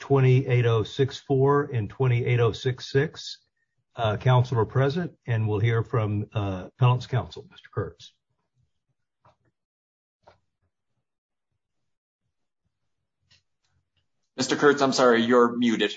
20-8064 and 20-8066. Council are present and we'll hear from Penalty Counsel, Mr. Kurtz. Mr. Kurtz, I'm sorry, you're muted.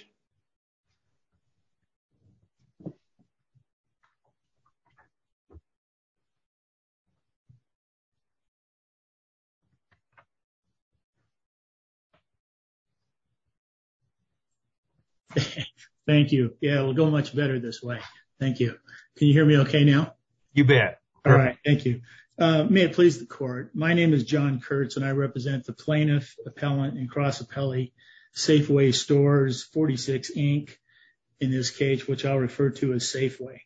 Thank you. Yeah, we'll go much better this way. Thank you. Can you hear me okay now? You bet. All right. Thank you. May it please the court. My name is John Kurtz and I represent the plaintiff, appellant, and cross appellee Safeway Stores 46, Inc. In this case, which I'll refer to as Safeway.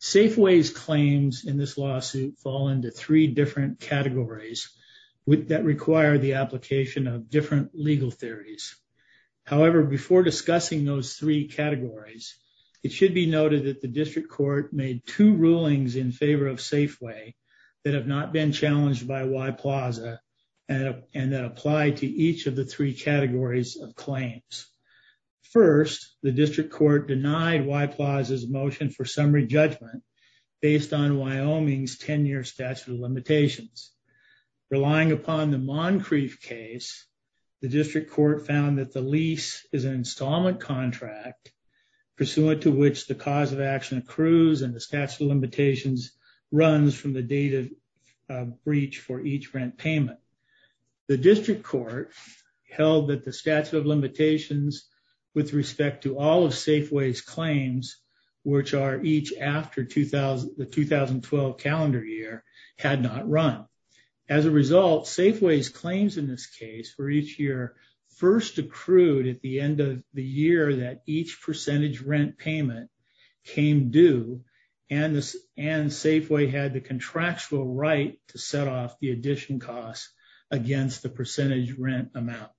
Safeways claims in this lawsuit fall into 3 different categories that require the application of different legal theories. However, before discussing those 3 categories, it should be noted that the District Court made 2 rulings in favor of Safeway that have not been challenged by WY Plaza and that apply to each of the 3 categories of claims. First, the District Court denied WY Plaza's motion for summary judgment based on Wyoming's 10-year statute of limitations. Relying upon the Moncrief case, the District Court found that the lease is an installment contract pursuant to which the cause of action accrues and the statute of limitations runs from the date of breach for each rent payment. The District Court held that the statute of limitations with respect to all of Safeway's claims, which are each after the 2012 calendar year, had not run. As a result, Safeway's claims in this case for each year first accrued at the end of the year that each percentage rent payment came due and Safeway had the contractual right to set off the addition costs against the percentage rent amount.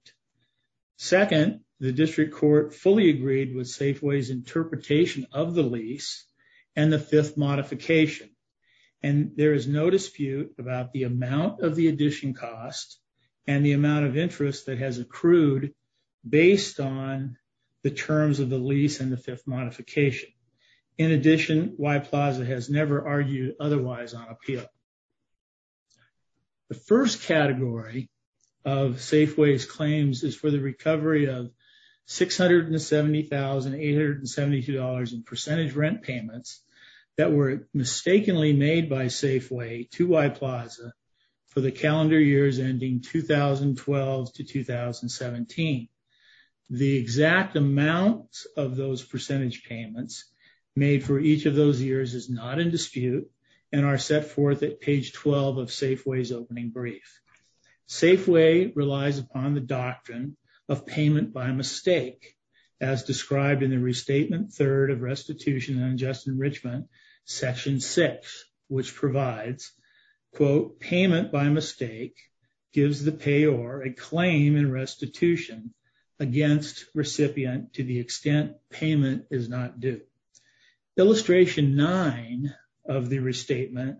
Second, the District Court fully agreed with Safeway's interpretation of the lease and the 5th modification and there is no dispute about the amount of the addition costs and the amount of interest that has accrued based on the terms of the lease and the 5th modification. In addition, WY Plaza has never argued otherwise on appeal. The first category of Safeway's claims is for the recovery of $670,872 in percentage rent payments that were mistakenly made by Safeway to WY Plaza for the calendar years ending 2012 to 2017. The exact amount of those percentage payments made for each of those years is not in dispute and are set forth at page 12 of Safeway's opening brief. Safeway relies upon the doctrine of payment by mistake, as described in the Restatement 3rd of Restitution and Unjust Enrichment, Section 6, which provides quote, payment by mistake gives the payor a claim in restitution against recipient to the extent payment is not due. Illustration 9 of the Restatement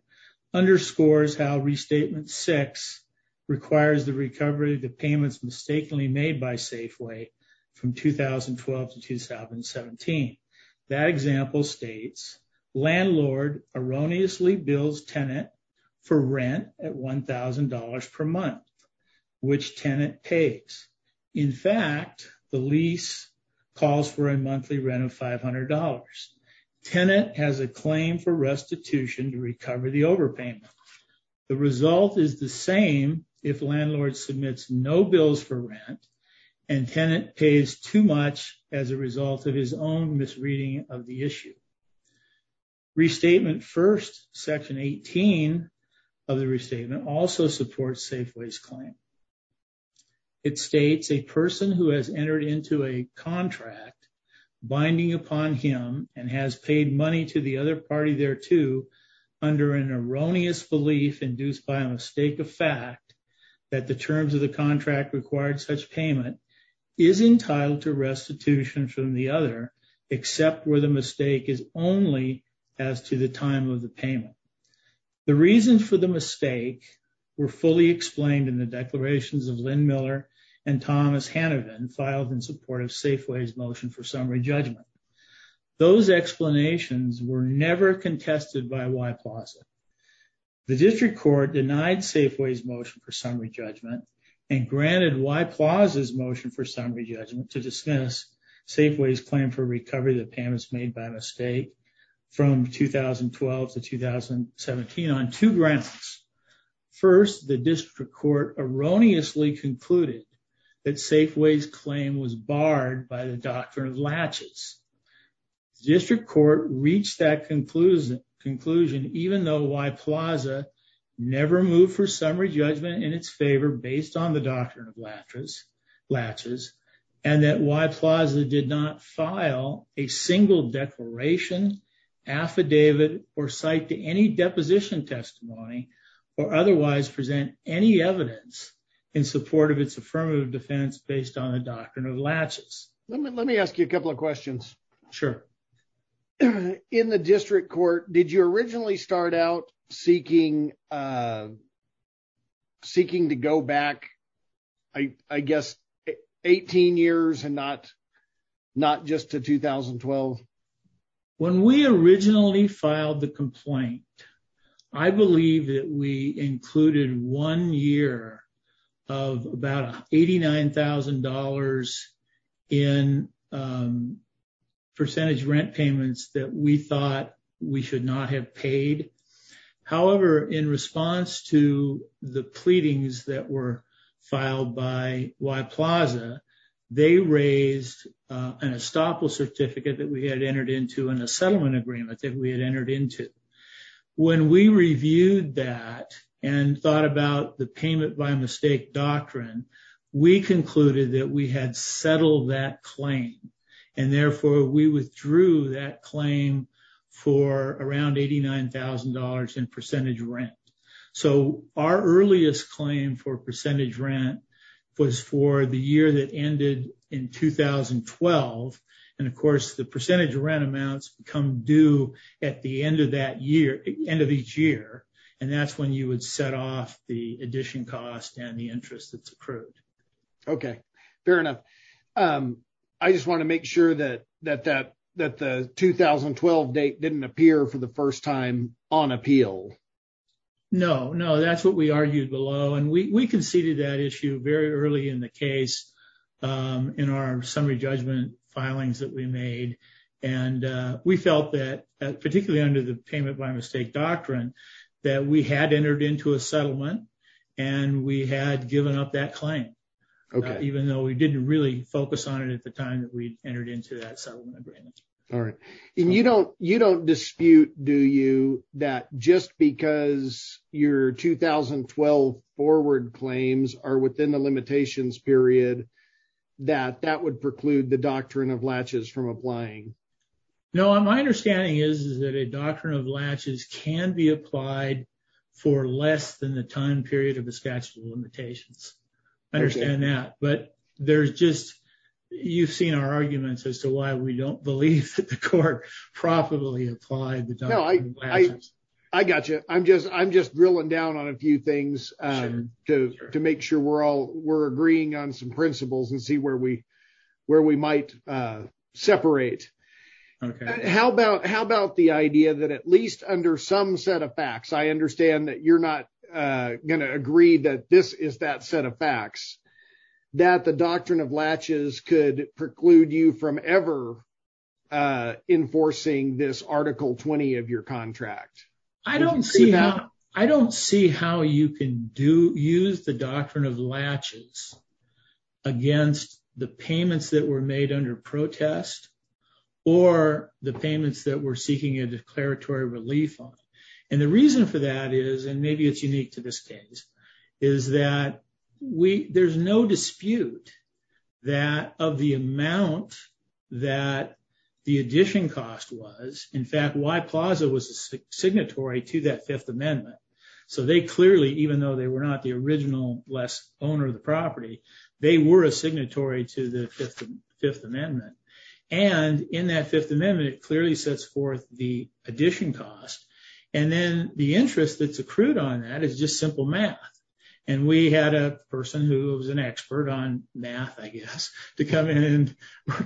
underscores how Restatement 6 requires the recovery of the payments mistakenly made by Safeway from 2012 to 2017. That example states, Landlord erroneously bills tenant for rent at $1,000 per month, which tenant pays. In fact, the lease calls for a monthly rent of $500. Tenant has a claim for restitution to recover the overpayment. The result is the same if landlord submits no bills for rent and tenant pays too much as a result of his own misreading of the issue. Restatement 1st, Section 18 of the Restatement also supports Safeway's claim. It states, a person who has entered into a contract binding upon him and has paid money to the other party thereto under an erroneous belief induced by a mistake of fact that the terms of the contract required such payment is entitled to restitution from the other, except where the mistake is only as to the time of the payment. The reasons for the mistake were fully explained in the declarations of Lynn Miller and Thomas Hanavan filed in support of Safeway's motion for summary judgment. Those explanations were never contested by Y-PLAZA. The District Court denied Safeway's motion for summary judgment and granted Y-PLAZA's motion for summary judgment to dismiss Safeway's claim for recovery that payments made by mistake from 2012 to 2017 on two grounds. First, the District Court erroneously concluded that Safeway's claim was barred by the Doctrine of Latches. District Court reached that conclusion, even though Y-PLAZA never moved for summary judgment in its favor based on the Doctrine of Latches, and that Y-PLAZA did not file a single declaration, affidavit, or cite to any deposition testimony or otherwise present any evidence in support of its affirmative defense based on the Doctrine of Latches. Let me ask you a couple of questions. Sure. In the District Court, did you originally start out seeking to go back, I guess, 18 years and not just to 2012? When we originally filed the complaint, I believe that we included one year of about $89,000 in percentage rent payments that we thought we should not have paid. However, in response to the pleadings that were filed by Y-PLAZA, they raised an estoppel certificate that we had entered into and a settlement agreement that we had entered into. When we reviewed that and thought about the payment by mistake doctrine, we concluded that we had settled that claim, and therefore, we withdrew that claim for around $89,000 in percentage rent. Our earliest claim for percentage rent was for the year that ended in 2012, and of course, the percentage rent amounts become due at the end of each year, and that's when you would set off the addition cost and the interest that's accrued. Okay. Fair enough. I just want to make sure that the 2012 date didn't appear for the first time on appeal. No, that's what we argued below, and we conceded that issue very early in the case in our summary judgment filings that we made. We felt that, particularly under the payment by mistake doctrine, that we had entered into a focus on it at the time that we entered into that settlement agreement. All right. And you don't dispute, do you, that just because your 2012 forward claims are within the limitations period, that that would preclude the doctrine of latches from applying? No. My understanding is that a doctrine of latches can be applied for less than the time period of the statute of limitations. I understand that. But there's just, you've seen our arguments as to why we don't believe that the court profitably applied the doctrine of latches. I got you. I'm just drilling down on a few things to make sure we're all, we're agreeing on some principles and see where we might separate. Okay. How about the idea that at least under some set of facts, I understand that you're not going to agree that this is that set of facts. That the doctrine of latches could preclude you from ever enforcing this article 20 of your contract. I don't see how, I don't see how you can do, use the doctrine of latches against the payments that were made under protest or the payments that we're seeking a declaratory relief on. And the reason for that is, and maybe it's unique to this case, is that there's no dispute that of the amount that the addition cost was. In fact, Y Plaza was a signatory to that Fifth Amendment. So they clearly, even though they were not the original less owner of the property, they were a signatory to the Fifth Amendment. And in that Fifth Amendment, it clearly sets forth the addition cost. And then the interest that's accrued on that is just simple math. And we had a person who was an expert on math, I guess, to come in and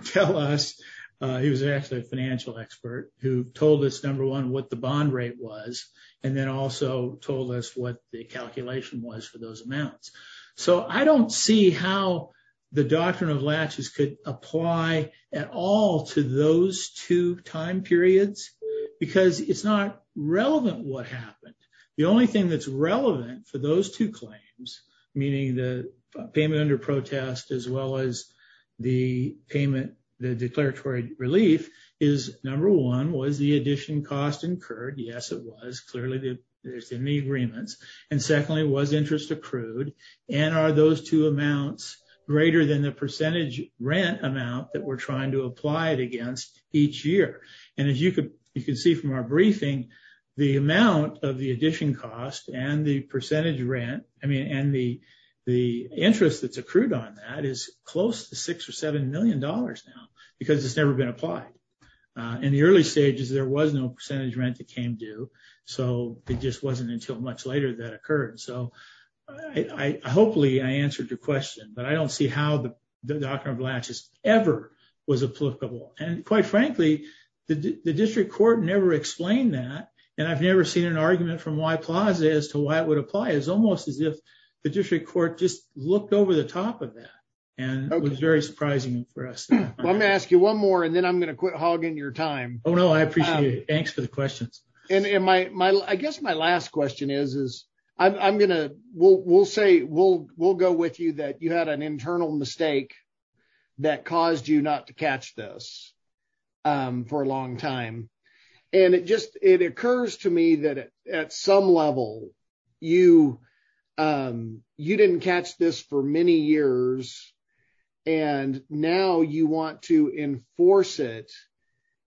tell us. He was actually a financial expert who told us number one, what the bond rate was, and then also told us what the calculation was for those amounts. So I don't see how the doctrine of latches could apply at all to those two time periods, because it's not relevant what happened. The only thing that's relevant for those two claims, meaning the payment under protest as well as the payment, the declaratory relief, is number one, was the addition cost incurred? Yes, it was. Clearly, there's the knee agreements. And secondly, was interest accrued? And are those two amounts greater than the percentage rent amount that we're trying to apply it against each year? And as you can see from our briefing, the amount of the addition cost and the interest that's accrued on that is close to $6 or $7 million now, because it's never been applied. In the early stages, there was no percentage rent that came due. So it just wasn't until much later that occurred. So hopefully, I answered your question. But I don't see how the doctrine of latches ever was applicable. And quite frankly, the district court never explained that. And I've never seen an argument from Y Plaza as to why it would apply. It's almost as if the district court just looked over the top of that. And it was very surprising for us. Well, I'm going to ask you one more, and then I'm going to quit hogging your time. Oh, no, I appreciate it. Thanks for the questions. And I guess my last question is, we'll go with you that you had an internal mistake that caused you not to catch this for a long time. And it occurs to me that at some level, you didn't catch this for many years. And now you want to enforce it.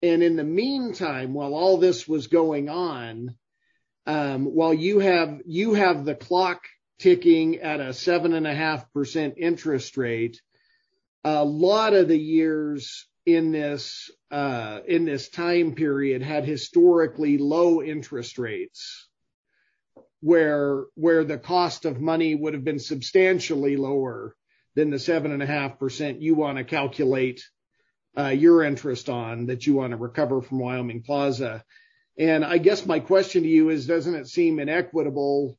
And in the meantime, while all this was going on, while you have the clock ticking at a 7.5% interest rate, a lot of the years in this time period had historically low interest rates where the cost of money would have been substantially lower than the 7.5% you want to calculate your interest on that you want to recover from Wyoming Plaza. And I guess my question to you is, doesn't it seem inequitable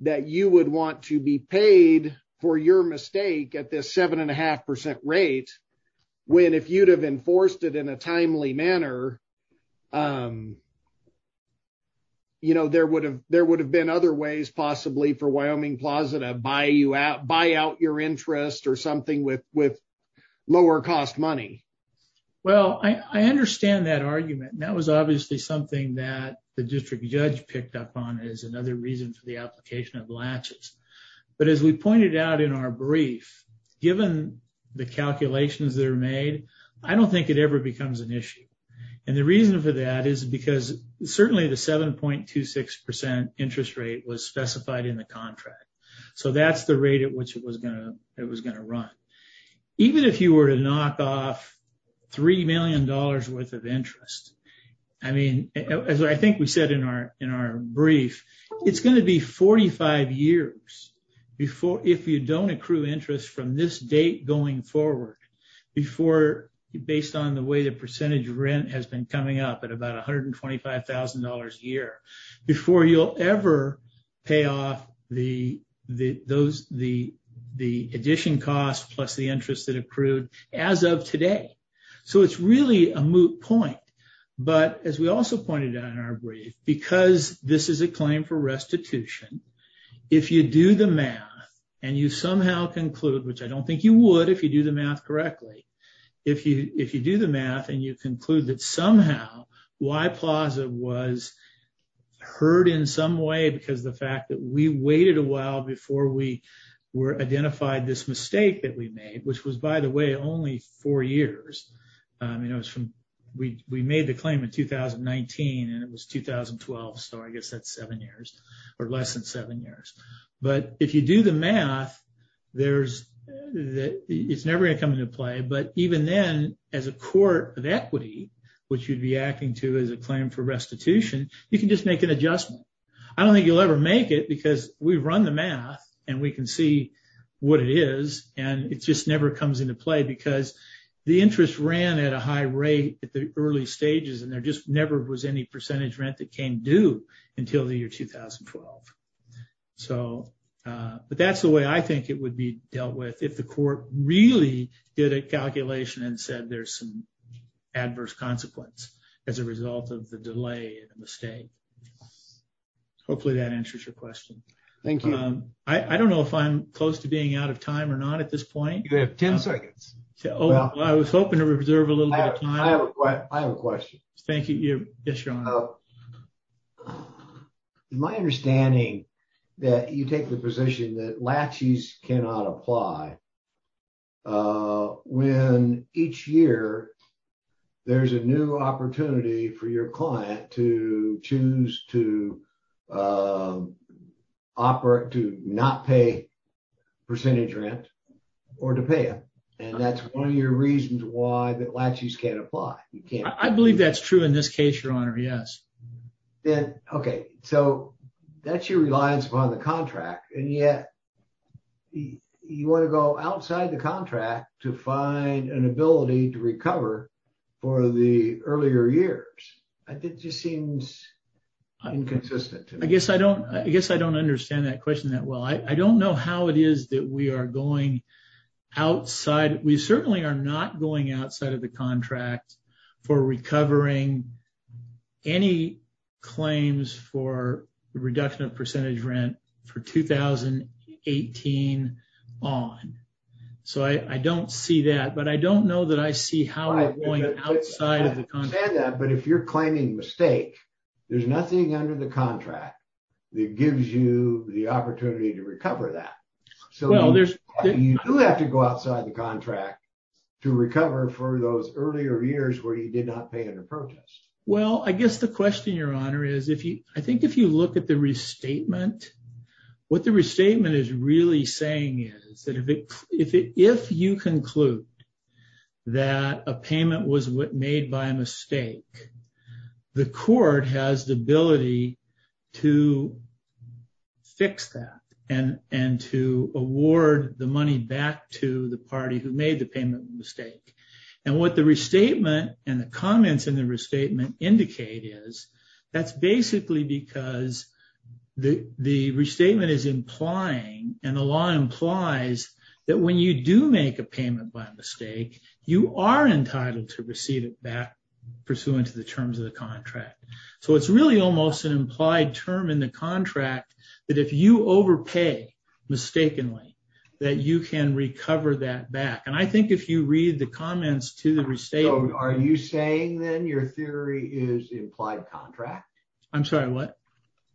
that you would want to be paid for your mistake at this 7.5% rate when if you'd have enforced it in a timely manner, there would have been other ways possibly for Wyoming Plaza to buy out your interest or something with lower cost money? Well, I understand that argument. And that was obviously something that the district judge picked up on as another reason for the application of latches. But as we pointed out in our brief, given the calculations that are made, I don't think it ever becomes an issue. And the reason for that is because certainly the 7.26% interest rate was specified in the contract. So that's the rate at which it was going to run. Even if you were to knock off $3 million worth of interest, I mean, as I think we said in our brief, it's going to be 45 years if you don't accrue interest from this date going forward based on the way the percentage rent has been coming up at about $125,000 a year before you'll ever pay off the addition cost plus the interest that accrued as of today. So it's really a moot point. But as we also pointed out in our brief, because this is a claim for restitution, if you do the math and you somehow conclude, which I don't think you would if you do the math correctly, if you do the math and you conclude that somehow Y Plaza was hurt in some way because the fact that we waited a while before we identified this mistake that we made, which was, by the way, only four years. We made the claim in 2019 and it was 2012. So I guess that's seven years or less than seven years. But if you do the math, it's never going to come into play. But even then, as a court of equity, which you'd be acting to as a claim for restitution, you can just make an adjustment. I don't think you'll ever make it because we've run the math and we can see what it is and it just never comes into play because the interest ran at a high rate at the early stages and there just never was any percentage rent that came due until the year 2012. But that's the way I think it would be dealt with if the court really did a calculation and said there's some adverse consequence as a result of the delay and the mistake. Hopefully that answers your question. Thank you. I don't know if I'm close to being out of time or not at this point. You have 10 seconds. I was hoping to reserve a little bit of time. I have a question. Thank you. Yes, your honor. My understanding that you take the position that laches cannot apply when each year there's a new opportunity for your client to choose to not pay percentage rent or to pay it. And that's one of your reasons why that laches can't apply. I believe that's true in this case, your honor. Yes. Okay. So that's your reliance upon the contract and yet you want to go outside the contract to find an ability to recover for the earlier years. I think it just seems inconsistent. I guess I don't understand that question that well. I don't know how it is that we are going outside. We certainly are not going outside of the contract for recovering any claims for the reduction of percentage rent for 2018 on. So I don't see that, but I don't know that I see how we're going outside of the contract. But if you're claiming mistake, there's nothing under the contract that gives you the opportunity to recover that. So you do have to go outside the contract to recover for those earlier years where you did not pay in a protest. Well, I guess the question, your honor, is I think if you look at the restatement, what the restatement is really saying is that if you conclude that a payment was made by a mistake, the court has the ability to fix that and to award the money back to the party who made the payment mistake. And what the restatement and the comments in the restatement indicate is that's basically because the restatement is implying and the law implies that when you do make a payment by mistake, you are entitled to receive it back pursuant to the terms of the contract. So it's really almost an implied term in the contract that if you overpay mistakenly, that you can recover that back. And I think if you read the comments to the restatement. Are you saying then your theory is implied contract? I'm sorry, what?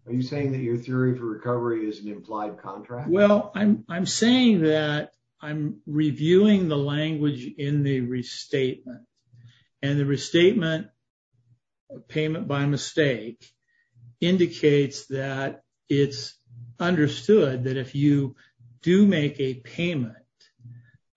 Are you saying that your theory for recovery is an implied contract? Well, I'm saying that I'm reviewing the language in the restatement and the restatement payment by mistake indicates that it's understood that if you do make a payment,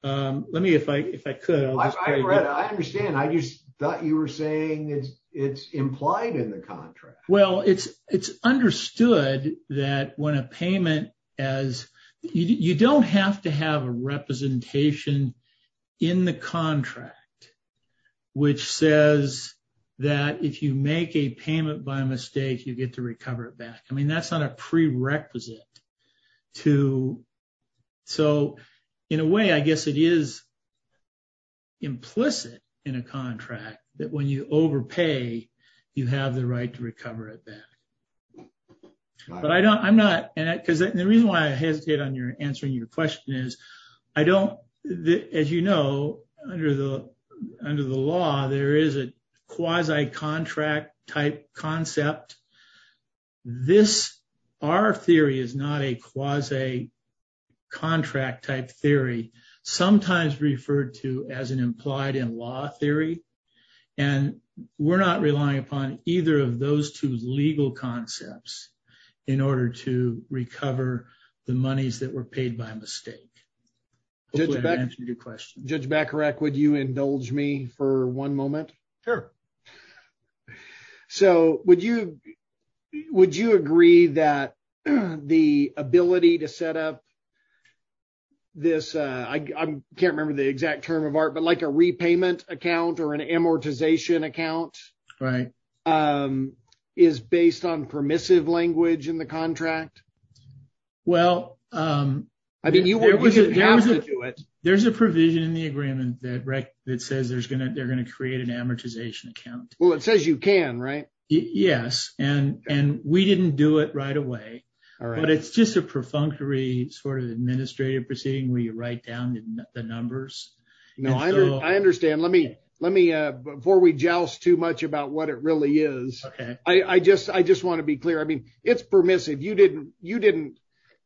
let me if I could. I understand. I just thought you were saying it's implied in the contract. Well, it's understood that when a payment as you don't have to have a representation in the contract, which says that if you make a payment by mistake, you get to recover it back. I mean, that's not a prerequisite to. So in a way, I guess it is. Implicit in a contract that when you overpay, you have the right to recover it back. But I don't I'm not because the reason why I hesitate on your answering your question is I don't as you know, under the under the law, there is a quasi contract type concept. This our theory is not a quasi contract type theory, sometimes referred to as an implied in law theory. And we're not relying upon either of those two legal concepts in order to recover the monies that were paid by mistake. Judge Beck, your question. Judge Beck, correct. Would you indulge me for one moment? Sure. So would you would you agree that the ability to set up? This I can't remember the exact term of art, but like a repayment account or an amortization account, right? Um, is based on permissive language in the contract? Well, I mean, you have to do it. There's a provision in the agreement that it says there's going to they're going to create an amortization account. Well, it says you can, right? Yes. And and we didn't do it right away. All right. But it's just a perfunctory sort of administrative proceeding where you write down the numbers. No, I understand. Let me let me before we joust too much about what it really is. OK, I just I just want to be clear. I mean, it's permissive. You didn't you didn't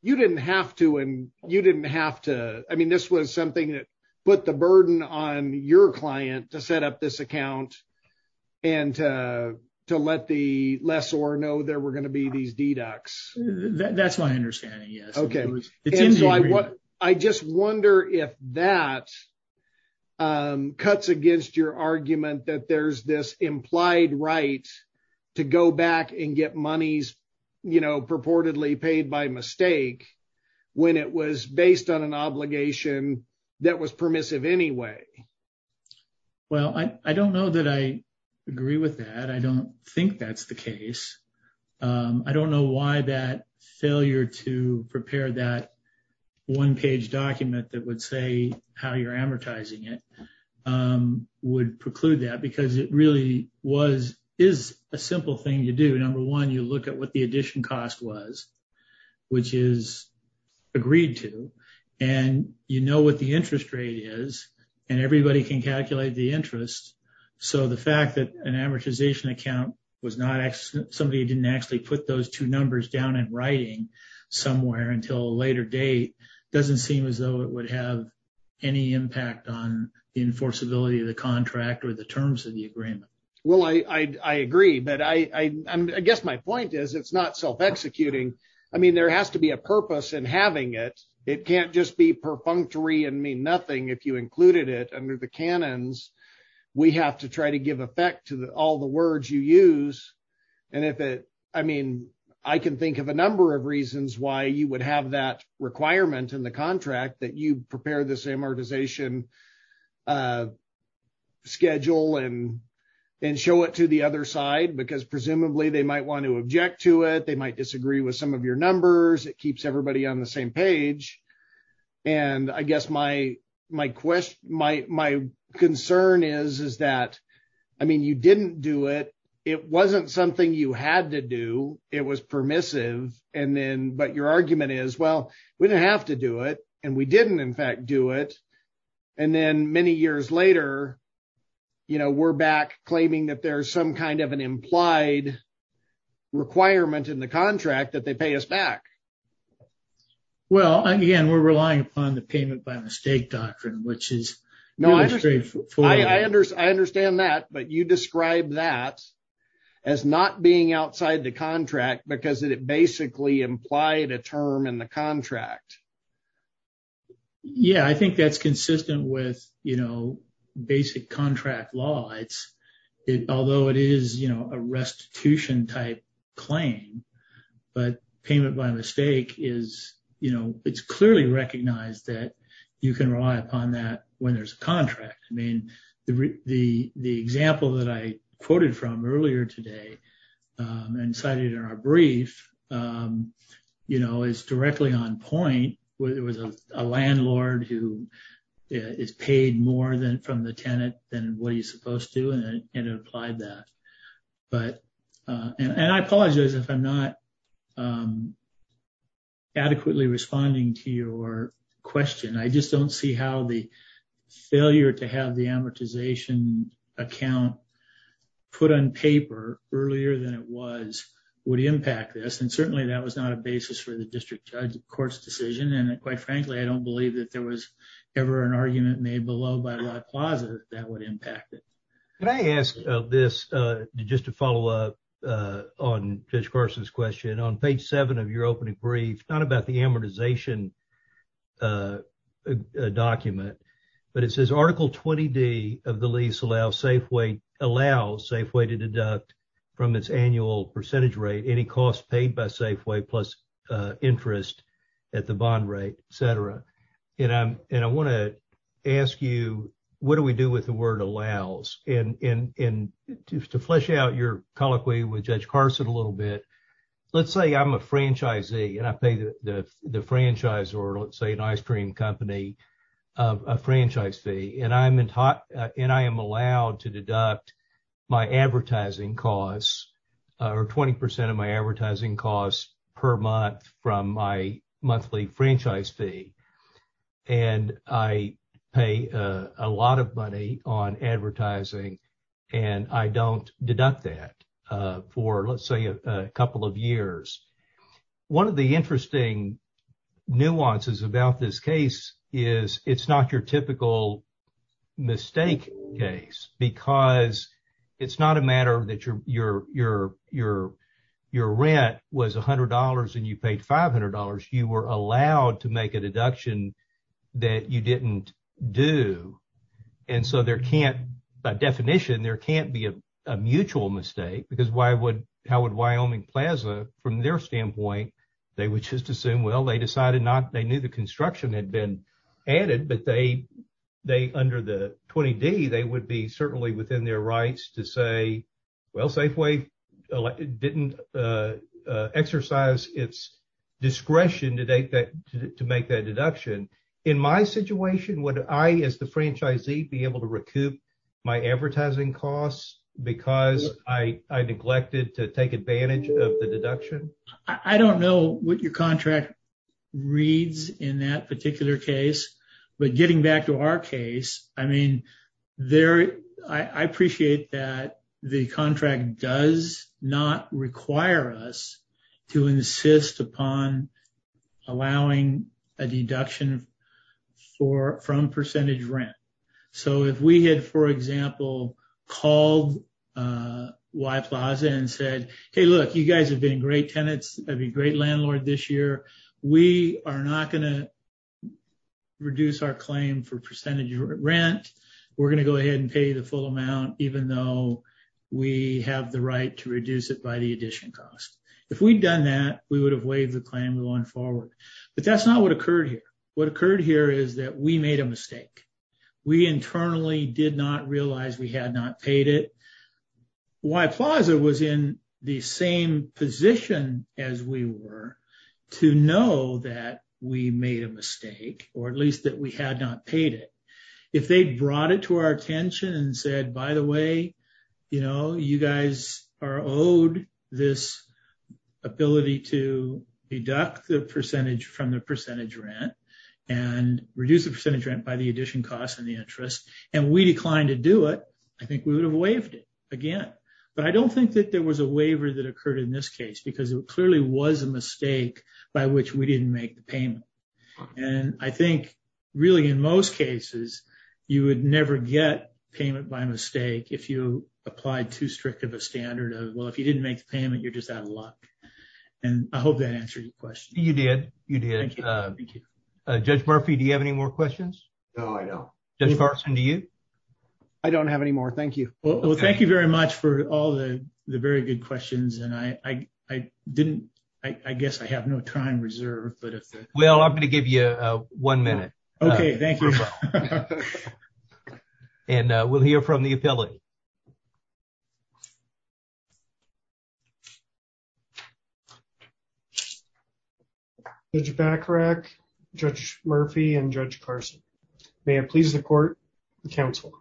you didn't have to. And you didn't have to. I mean, this was something that put the burden on your client to set up this account. And to let the lessor know there were going to be these deducts. That's my understanding. Yes. OK. So I what I just wonder if that cuts against your argument that there's this implied right to go back and get monies, you know, purportedly paid by mistake when it was based on an obligation that was permissive anyway? Well, I don't know that I agree with that. I don't think that's the case. I don't know why that failure to prepare that one page document that would say how you're amortizing it would preclude that because it really was is a simple thing to do. Number one, you look at what the addition cost was, which is agreed to. And you know what the interest rate is and everybody can calculate the interest. So the fact that an amortization account was not somebody who didn't actually put those two numbers down in writing somewhere until a later date doesn't seem as though it would have any impact on the enforceability of the contract or the terms of the agreement. Well, I agree, but I guess my point is it's not self-executing. I mean, there has to be a purpose in having it. It can't just be perfunctory and mean nothing if you included it under the canons we have to try to give effect to all the words you use. And if it I mean, I can think of a number of reasons why you would have that requirement in the contract that you prepare this amortization schedule and show it to the other side, because presumably they might want to object to it. They might disagree with some of your numbers. It keeps everybody on the same page. And I guess my concern is that, I mean, you didn't do it. It wasn't something you had to do. It was permissive. But your argument is, well, we didn't have to do it. And we didn't, in fact, do it. And then many years later, we're back claiming that there's some kind of an implied requirement in the contract that they pay us back. Well, again, we're relying upon the payment by mistake doctrine, which is not straightforward. I understand that. But you describe that as not being outside the contract because it basically implied a term in the contract. Yeah, I think that's consistent with, you know, basic contract law. Although it is, you know, a restitution type claim, but payment by mistake is, you know, it's clearly recognized that you can rely upon that when there's a contract. I mean, the example that I quoted from earlier today and cited in our brief, you know, is directly on point. There was a landlord who is paid more than from the tenant than what he's supposed to, and it implied that. But and I apologize if I'm not adequately responding to your question. I just don't see how the failure to have the amortization account put on paper earlier than it was would impact this. Certainly, that was not a basis for the district court's decision, and quite frankly, I don't believe that there was ever an argument made below by La Plaza that would impact it. Can I ask this just to follow up on Judge Carson's question? On page seven of your opening brief, not about the amortization document, but it says Article 20D of the lease allows Safeway to deduct from its annual percentage rate any cost paid by Safeway plus interest at the bond rate, et cetera. And I want to ask you, what do we do with the word allows? And to flesh out your colloquy with Judge Carson a little bit, let's say I'm a franchisee and I pay the franchisor, let's say an ice cream company, a franchise fee, and I am allowed to deduct my advertising costs or 20% of my advertising costs per month from my monthly franchise fee. And I pay a lot of money on advertising and I don't deduct that for, let's say, a couple of mistake days. Because it's not a matter that your rent was $100 and you paid $500. You were allowed to make a deduction that you didn't do. And so there can't, by definition, there can't be a mutual mistake. Because how would Wyoming Plaza, from their standpoint, they would just assume, well, they knew the construction had been added, but under the 20D, they would be certainly within their rights to say, well, Safeway didn't exercise its discretion to make that deduction. In my situation, would I, as the franchisee, be able to recoup my advertising costs because I neglected to take advantage of the deduction? I don't know what your contract reads in that particular case. But getting back to our case, I mean, I appreciate that the contract does not require us to insist upon allowing a deduction from percentage rent. So if we had, for example, called Y Plaza and said, hey, look, you guys have been great tenants, great landlord this year, we are not going to reduce our claim for percentage rent. We're going to go ahead and pay the full amount, even though we have the right to reduce it by the addition cost. If we'd done that, we would have waived the claim going forward. But that's not what occurred here. What occurred here is that we made a mistake. We internally did not realize we had not paid it. Y Plaza was in the same position as we were to know that we made a mistake, or at least that we had not paid it. If they brought it to our attention and said, by the way, you know, you guys are owed this ability to deduct the percentage from the percentage rent and reduce the percentage rent by the addition cost and the interest, and we declined to do it, I think we would have waived it again. But I don't think that there was a waiver that occurred in this case, because it clearly was a mistake by which we didn't make the payment. And I think, really, in most cases, you would never get payment by mistake if you applied too strict of a standard of, well, if you didn't make the payment, you're just out of luck. And I hope that answered your question. You did. You did. Thank you. Judge Murphy, do you have any more questions? No, I don't. Judge Carson, do you? I don't have any more. Thank you. Well, thank you very much for all the very good questions. And I didn't, I guess I have no time reserved. Well, I'm going to give you one minute. Okay, thank you. And we'll hear from the appellate. Judge Bacharach, Judge Murphy, and Judge Carson, may I please the court, the counsel.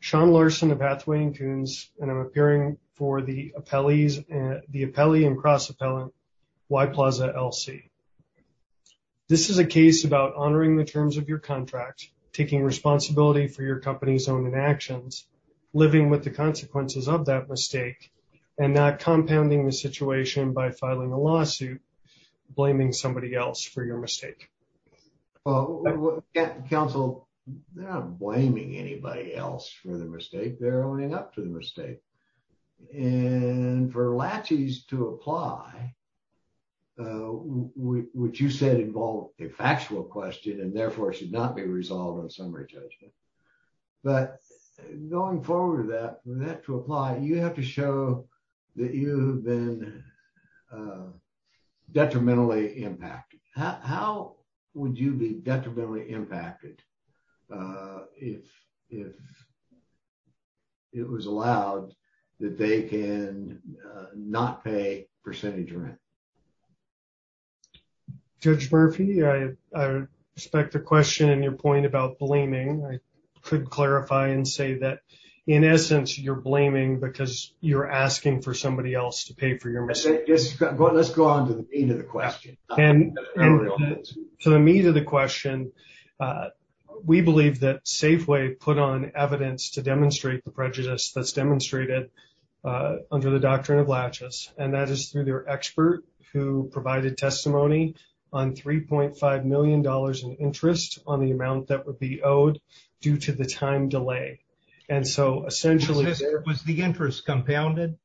Sean Larson of Hathaway & Coons, and I'm appearing for the appellee and cross-appellant Y Plaza, LC. This is a case about honoring the terms of your contract, taking responsibility for your company's own inactions, living with the consequences of that mistake, and not compounding the situation by filing a lawsuit, blaming somebody else for your mistake. Well, counsel, they're not blaming anybody else for the mistake. They're owning up to the mistake. And for laches to apply, which you said involved a factual question and therefore should not be resolved on summary judgment. But going forward with that, for that to apply, you have to show that you have been detrimentally impacted. How would you be detrimentally impacted if it was allowed that they can not pay percentage rent? Judge Murphy, I respect the question and your point about blaming. I could clarify and say that, in essence, you're blaming because you're asking for somebody else to pay for your mistake. Let's go on to the meat of the question. To the meat of the question, we believe that Safeway put on evidence to demonstrate the prejudice that's demonstrated under the doctrine of laches. And that is through their expert who provided testimony on $3.5 million in interest on the due to the time delay. And so, essentially... Was the interest compounded?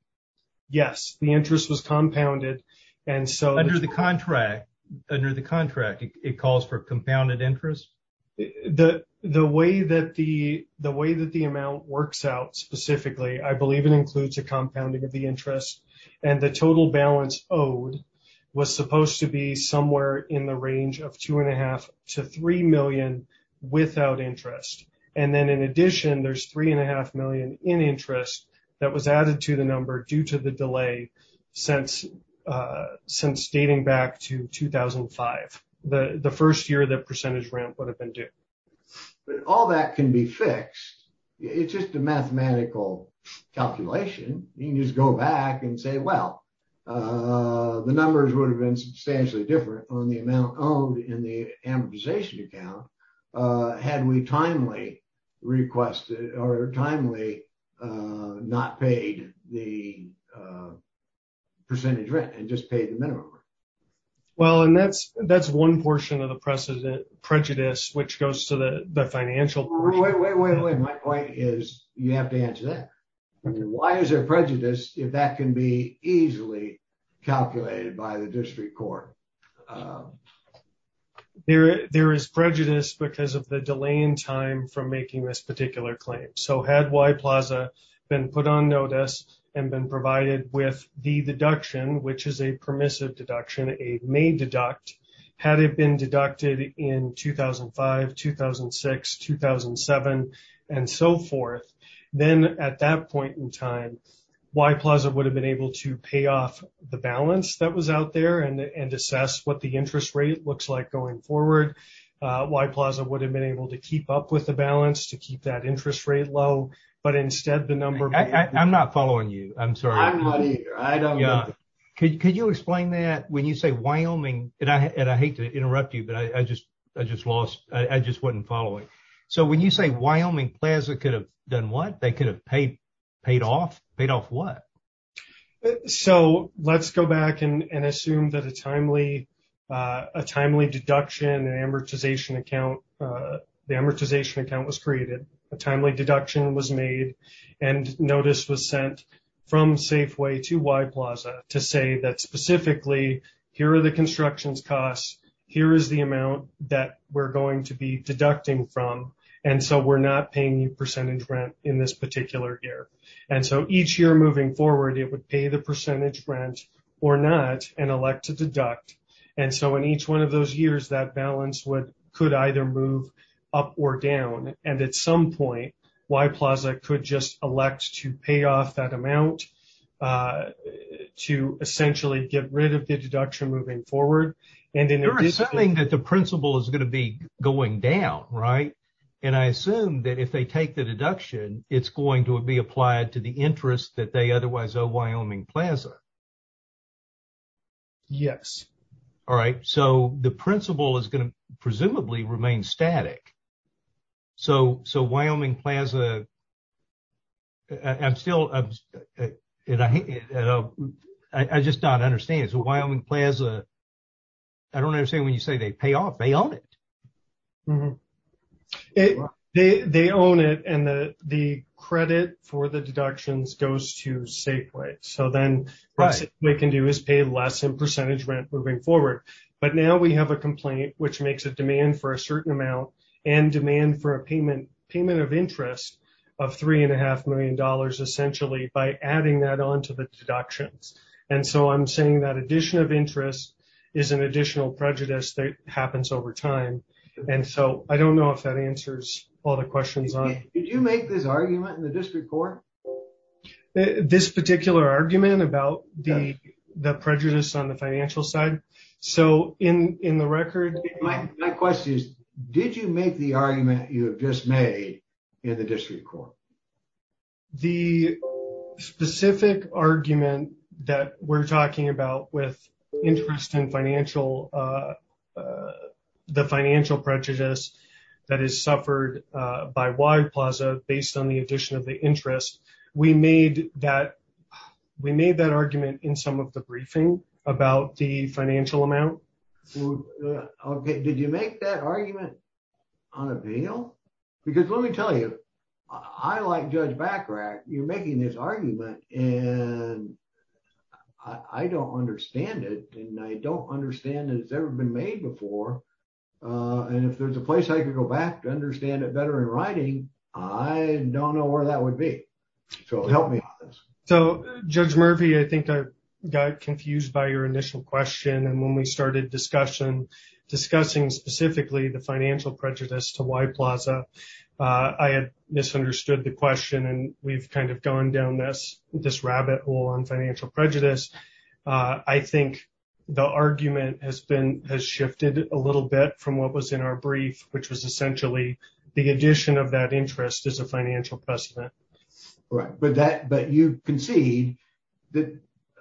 Yes, the interest was compounded. And so... Under the contract, it calls for compounded interest? The way that the amount works out specifically, I believe it includes a compounding of the interest. And the total balance owed was supposed to be somewhere in the range of $2.5 to $3 million without interest. And then, in addition, there's $3.5 million in interest that was added to the number due to the delay since dating back to 2005, the first year that percentage rent would have been due. But all that can be fixed. It's just a mathematical calculation. You can just go back and say, well, the numbers would have been substantially different on the amount owed in the amortization account had we timely requested or timely not paid the percentage rent and just paid the minimum. Well, and that's one portion of the prejudice, which goes to the financial... Wait, wait, wait, wait. My point is you have to answer that. Why is there prejudice if that can be easily calculated by the district court? Well, there is prejudice because of the delay in time from making this particular claim. So had Y Plaza been put on notice and been provided with the deduction, which is a permissive deduction, a May deduct, had it been deducted in 2005, 2006, 2007, and so forth, then at that point in time, Y Plaza would have been able to pay off the balance that was out there and assess what the interest rate looks like going forward. Y Plaza would have been able to keep up with the balance to keep that interest rate low, but instead the number... I'm not following you. I'm sorry. I'm not either. I don't know. Could you explain that? When you say Wyoming, and I hate to interrupt you, but I just wasn't following. So when you say Wyoming Plaza could have done what? They could have paid off? Paid off what? So let's go back and assume that a timely deduction and amortization account, the amortization account was created, a timely deduction was made, and notice was sent from Safeway to Y Plaza to say that specifically, here are the construction's costs, here is the amount that we're going to be deducting from, and so we're not paying you percentage rent in this particular year. And so each year moving forward, it would pay the percentage rent or not and elect to deduct. And so in each one of those years, that balance could either move up or down. And at some point, Y Plaza could just elect to pay off that amount to essentially get rid of the deduction moving forward. You're assuming that the principal is going to be going down, right? And I assume that if they take the deduction, it's going to be applied to the interest that they otherwise owe Wyoming Plaza. Yes. All right. So the principal is going to presumably remain static. So Wyoming Plaza, I'm still, I just don't understand. So Wyoming Plaza, I don't understand when you say they pay off, they own it. They own it and the credit for the deductions goes to Safeway. So then what Safeway can do is pay less in percentage rent moving forward. But now we have a complaint which makes a demand for a certain amount and demand for a payment of interest of $3.5 million essentially by adding that onto the deductions. And so I'm saying that addition of interest is an additional prejudice that happens over time. And so I don't know if that answers all the questions on it. Did you make this argument in the district court? This particular argument about the prejudice on the financial side? So in the record- My question is, did you make the argument you have just made in the district court? The specific argument that we're talking about with interest in financial, the financial prejudice that is suffered by Wyoming Plaza based on the addition of the interest. We made that argument in some of the briefing about the financial amount. Okay, did you make that argument on appeal? Because let me tell you, I like Judge Bachrach, you're making this argument and I don't understand it. And I don't understand that it's ever been made before. And if there's a place I could go back to understand it better in writing, I don't know where that would be. So help me with this. So Judge Murphy, I think I got confused by your initial question. And when we started discussion, discussing specifically the financial prejudice to on financial prejudice, I think the argument has shifted a little bit from what was in our brief, which was essentially the addition of that interest as a financial precedent. Right, but you concede that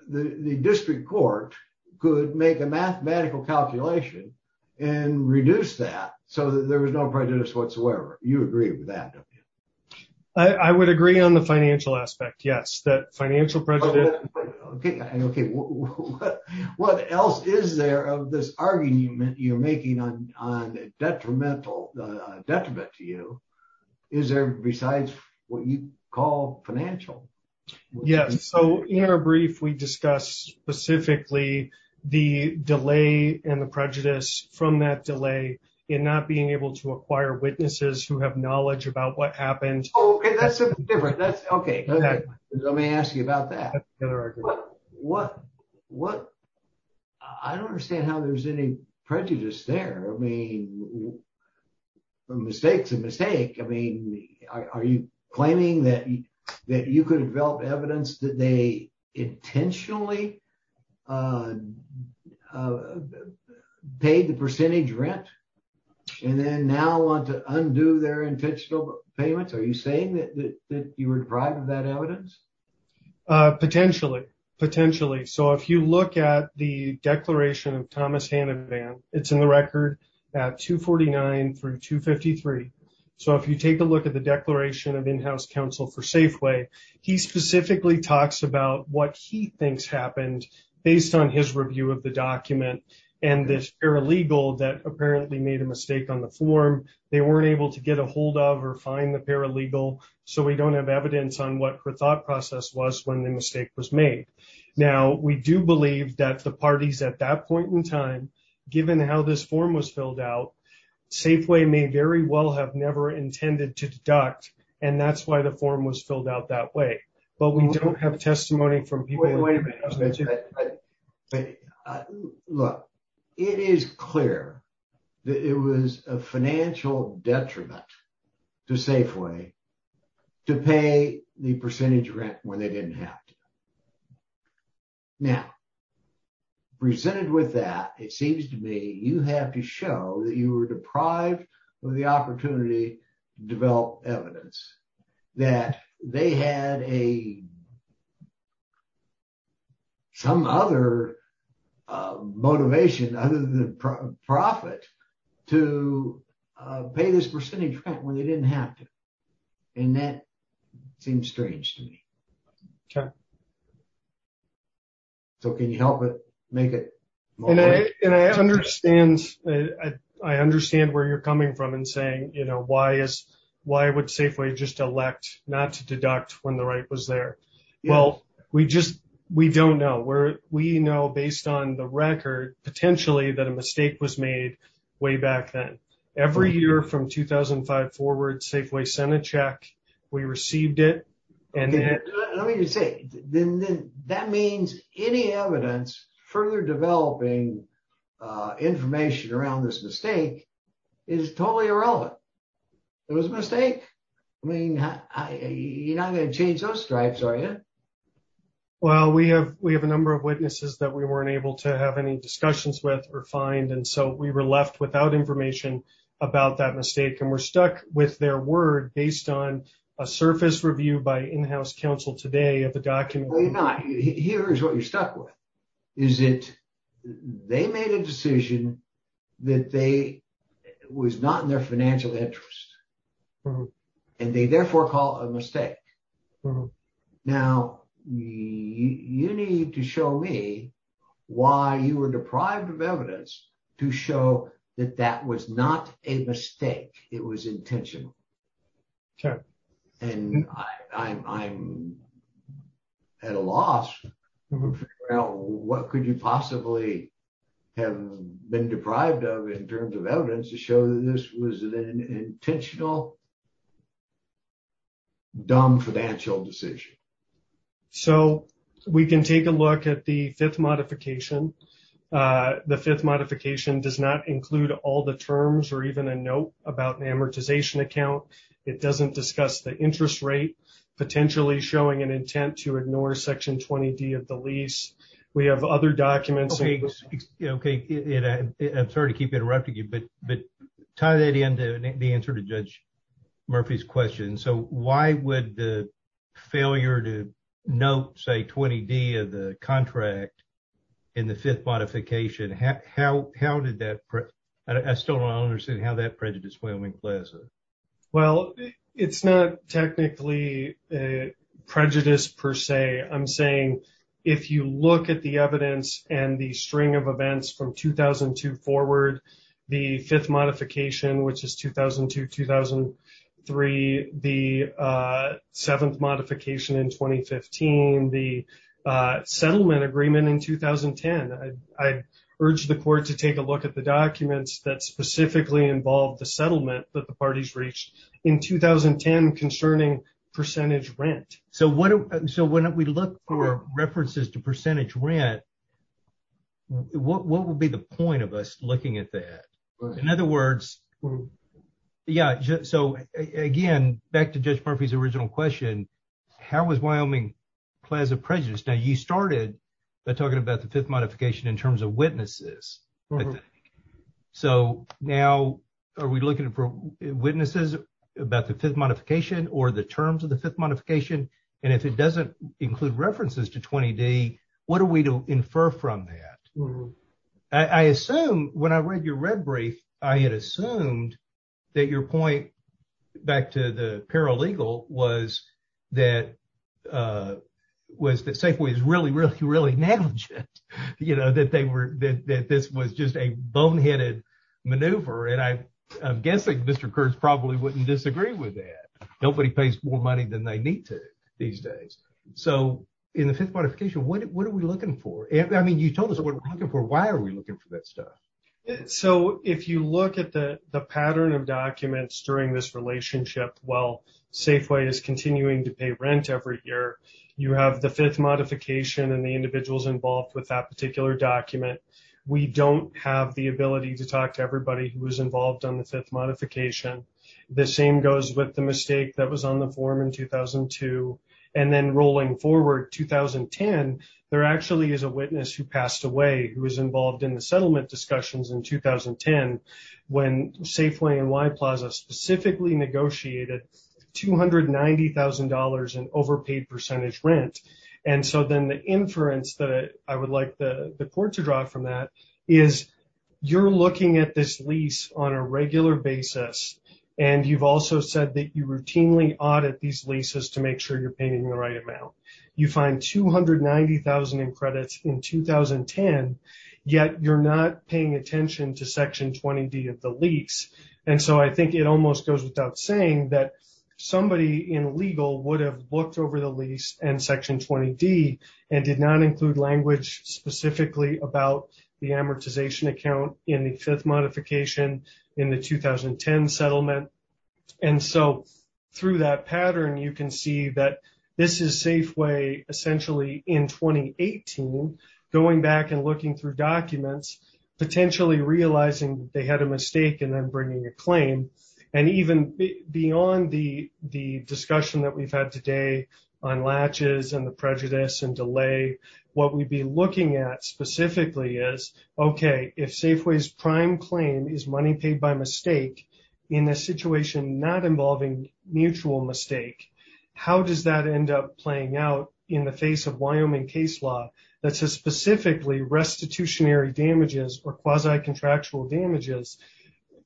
the district court could make a mathematical calculation and reduce that so that there was no prejudice whatsoever. You agree with that, don't you? I would agree on the financial aspect. Yes, that financial prejudice. Okay, okay. What else is there of this argument you're making on detrimental detriment to you? Is there besides what you call financial? Yes. So in our brief, we discussed specifically the delay and the prejudice from that delay in not being able to acquire witnesses who have knowledge about what happened. Oh, that's different. That's okay. Let me ask you about that. I don't understand how there's any prejudice there. I mean, from mistake to mistake. I mean, are you claiming that you could develop evidence that they intentionally paid the percentage rent and then now want to undo their intentional payments? Are you saying that you were deprived of that evidence? Uh, potentially. Potentially. So if you look at the declaration of Thomas Hanavan, it's in the record at 249 through 253. So if you take a look at the declaration of in-house counsel for Safeway, he specifically talks about what he thinks happened based on his review of the document and this paralegal that apparently made a mistake on the form. They weren't able to get a hold of or find the paralegal. So we don't have evidence on what her thought process was when the mistake was made. Now, we do believe that the parties at that point in time, given how this form was filled out, Safeway may very well have never intended to deduct. And that's why the form was filled out that way. But we don't have testimony from people. Look, it is clear that it was a financial detriment to Safeway to pay the percentage rent when they didn't have to. Now, presented with that, it seems to me you have to show that you were deprived of the opportunity to develop evidence that they had a some other motivation other than profit to pay this percentage rent when they didn't have to. And that seems strange to me. Okay. So can you help it make it more? And I understand where you're coming from and saying, you know, why would Safeway just elect not to deduct when the right was there? Well, we don't know. We know based on the record, potentially, that a mistake was made way back then. Every year from 2005 forward, Safeway sent a check. We received it. Let me just say, that means any evidence further developing information around this mistake is totally irrelevant. It was a mistake. I mean, you're not going to change those stripes, are you? Well, we have a number of witnesses that we weren't able to have any discussions with or find. And so we were left without information about that mistake. And we're stuck with their word based on a surface review by in-house counsel today of the document. No, you're not. Here's what you're stuck with. Is it they made a decision that they was not in their financial interest and they therefore call a mistake. Now, you need to show me why you were deprived of evidence to show that that was not a mistake. It was intentional. Okay. And I'm at a loss. What could you possibly have been deprived of in terms of evidence to show that this was an intentional, dumb financial decision? So we can take a look at the fifth modification. The fifth modification does not include all the terms or even a note about an amortization account. It doesn't discuss the interest rate, potentially showing an intent to ignore Section 20D of the lease. We have other documents. Okay. I'm sorry to keep interrupting you, but tie that into the answer to Judge Murphy's question. So why would the failure to note, say, 20D of the contract in the fifth modification? How did that... I still don't understand how that prejudice went in place. Well, it's not technically a prejudice per se. I'm saying if you look at the evidence and the string of events from 2002 forward, the fifth modification, which is 2002-2003, the seventh modification in 2015, the settlement agreement in 2010. I urge the court to take a look at the documents that specifically involve the settlement that the parties reached in 2010 concerning percentage rent. So when we look for references to percentage rent, what would be the point of us looking at that? In other words... Yeah, so again, back to Judge Murphy's original question, how was Wyoming Plaza prejudiced? Now you started by talking about the fifth modification in terms of witnesses. So now are we looking for witnesses about the fifth modification or the terms of the fifth modification? And if it doesn't include references to 20D, what are we to infer from that? I assume when I read your red brief, I had assumed that your point, back to the paralegal, was that Safeway is really, really, really negligent. You know, that this was just a boneheaded maneuver. And I'm guessing Mr. Kurtz probably wouldn't disagree with that. Nobody pays more money than they need to these days. So in the fifth modification, what are we looking for? I mean, you told us what we're looking for. Why are we looking for that stuff? So if you look at the pattern of documents during this relationship, while Safeway is continuing to pay rent every year, you have the fifth modification and the individuals involved with that particular document. We don't have the ability to talk to everybody who was involved on the fifth modification. The same goes with the mistake that was on the form in 2002. And then rolling forward, 2010, there actually is a witness who passed away who was involved in the settlement discussions in 2010 when Safeway and Y Plaza specifically negotiated $290,000 in overpaid percentage rent. And so then the inference that I would like the court to draw from that is you're looking at this lease on a regular basis. And you've also said that you routinely audit these leases to make sure you're paying the right amount. You find $290,000 in credits in 2010, yet you're not paying attention to Section 20D of the lease. And so I think it almost goes without saying that somebody in legal would have looked over the lease and Section 20D and did not include language specifically about the amortization account in the fifth modification in the 2010 settlement. And so through that pattern, you can see that this is Safeway essentially in 2018, going back and looking through documents, potentially realizing they had a mistake and then bringing a claim. And even beyond the discussion that we've had today on latches and the prejudice and delay, what we'd be looking at specifically is, okay, if Safeway's prime claim is money paid by mistake, in a situation not involving mutual mistake, how does that end up playing out in the face of Wyoming case law that says specifically restitutionary damages or quasi-contractual damages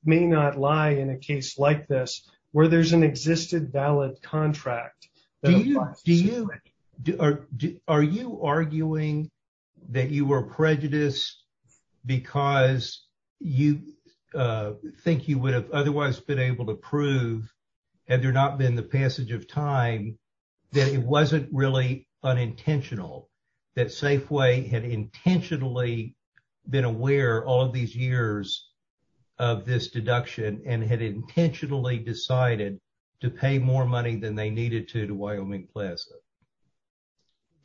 may not lie in a case like this where there's an existed valid contract? Do you, are you arguing that you were prejudiced because you think you would have otherwise been able to prove, had there not been the passage of time, that it wasn't really unintentional, that Safeway had intentionally been aware all of these years of this deduction and had intentionally decided to pay more money than they needed to to Wyoming Plaza?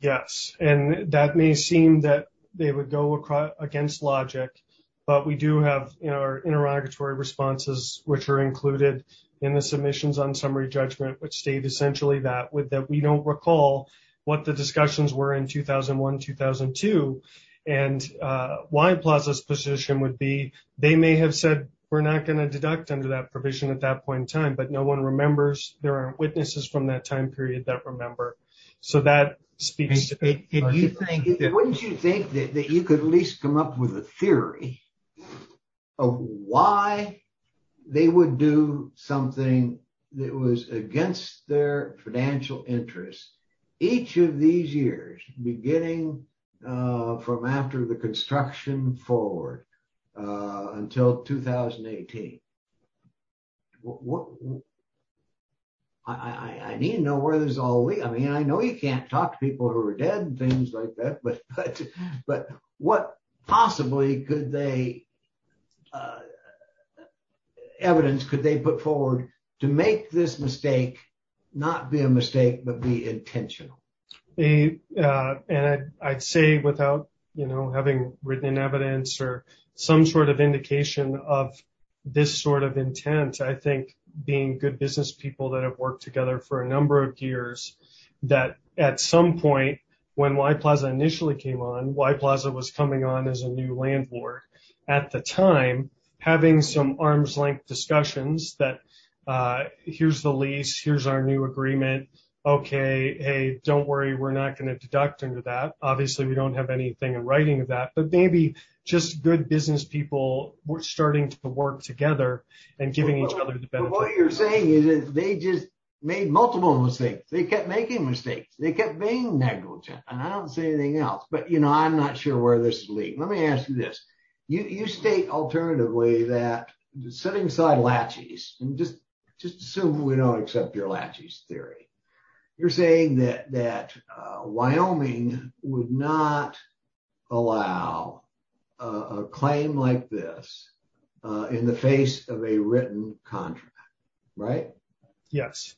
Yes. And that may seem that they would go against logic, but we do have our interrogatory responses, which are included in the submissions on summary judgment, which state essentially that we don't recall what the discussions were in 2001, 2002. And Wyoming Plaza's position would be, they may have said, we're not going to deduct under that provision at that point in time, but no one remembers, there aren't witnesses from that time period that remember. So that speaks to it. Wouldn't you think that you could at least come up with a theory of why they would do something that was against their financial interests each of these years, beginning from after the construction forward, until 2018? I need to know where this all leads. I mean, I know you can't talk to people who are dead and things like that, but what possibly could they, evidence could they put forward to make this mistake, not be a mistake, but be intentional? And I'd say without, you know, written in evidence or some sort of indication of this sort of intent, I think being good business people that have worked together for a number of years, that at some point when Y Plaza initially came on, Y Plaza was coming on as a new landlord at the time, having some arm's length discussions that, here's the lease, here's our new agreement. Okay. Hey, don't worry. We're not going to deduct into that. Obviously we don't have anything in writing of that, but maybe just good business people were starting to work together and giving each other the benefit. What you're saying is they just made multiple mistakes. They kept making mistakes. They kept being negligent. And I don't say anything else, but you know, I'm not sure where this is leading. Let me ask you this. You state alternatively that the setting side latches, and just assume we don't accept your latches theory. You're saying that Wyoming would not allow a claim like this in the face of a written contract, right? Yes,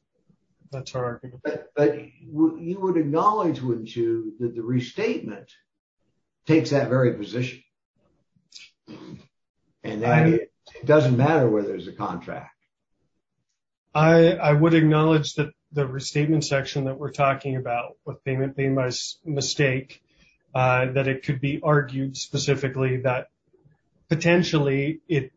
that's our argument. But you would acknowledge, wouldn't you, that the restatement takes that very position. And it doesn't matter whether there's a contract. I would acknowledge that the restatement section that we're talking about with payment being my mistake, that it could be argued specifically that potentially it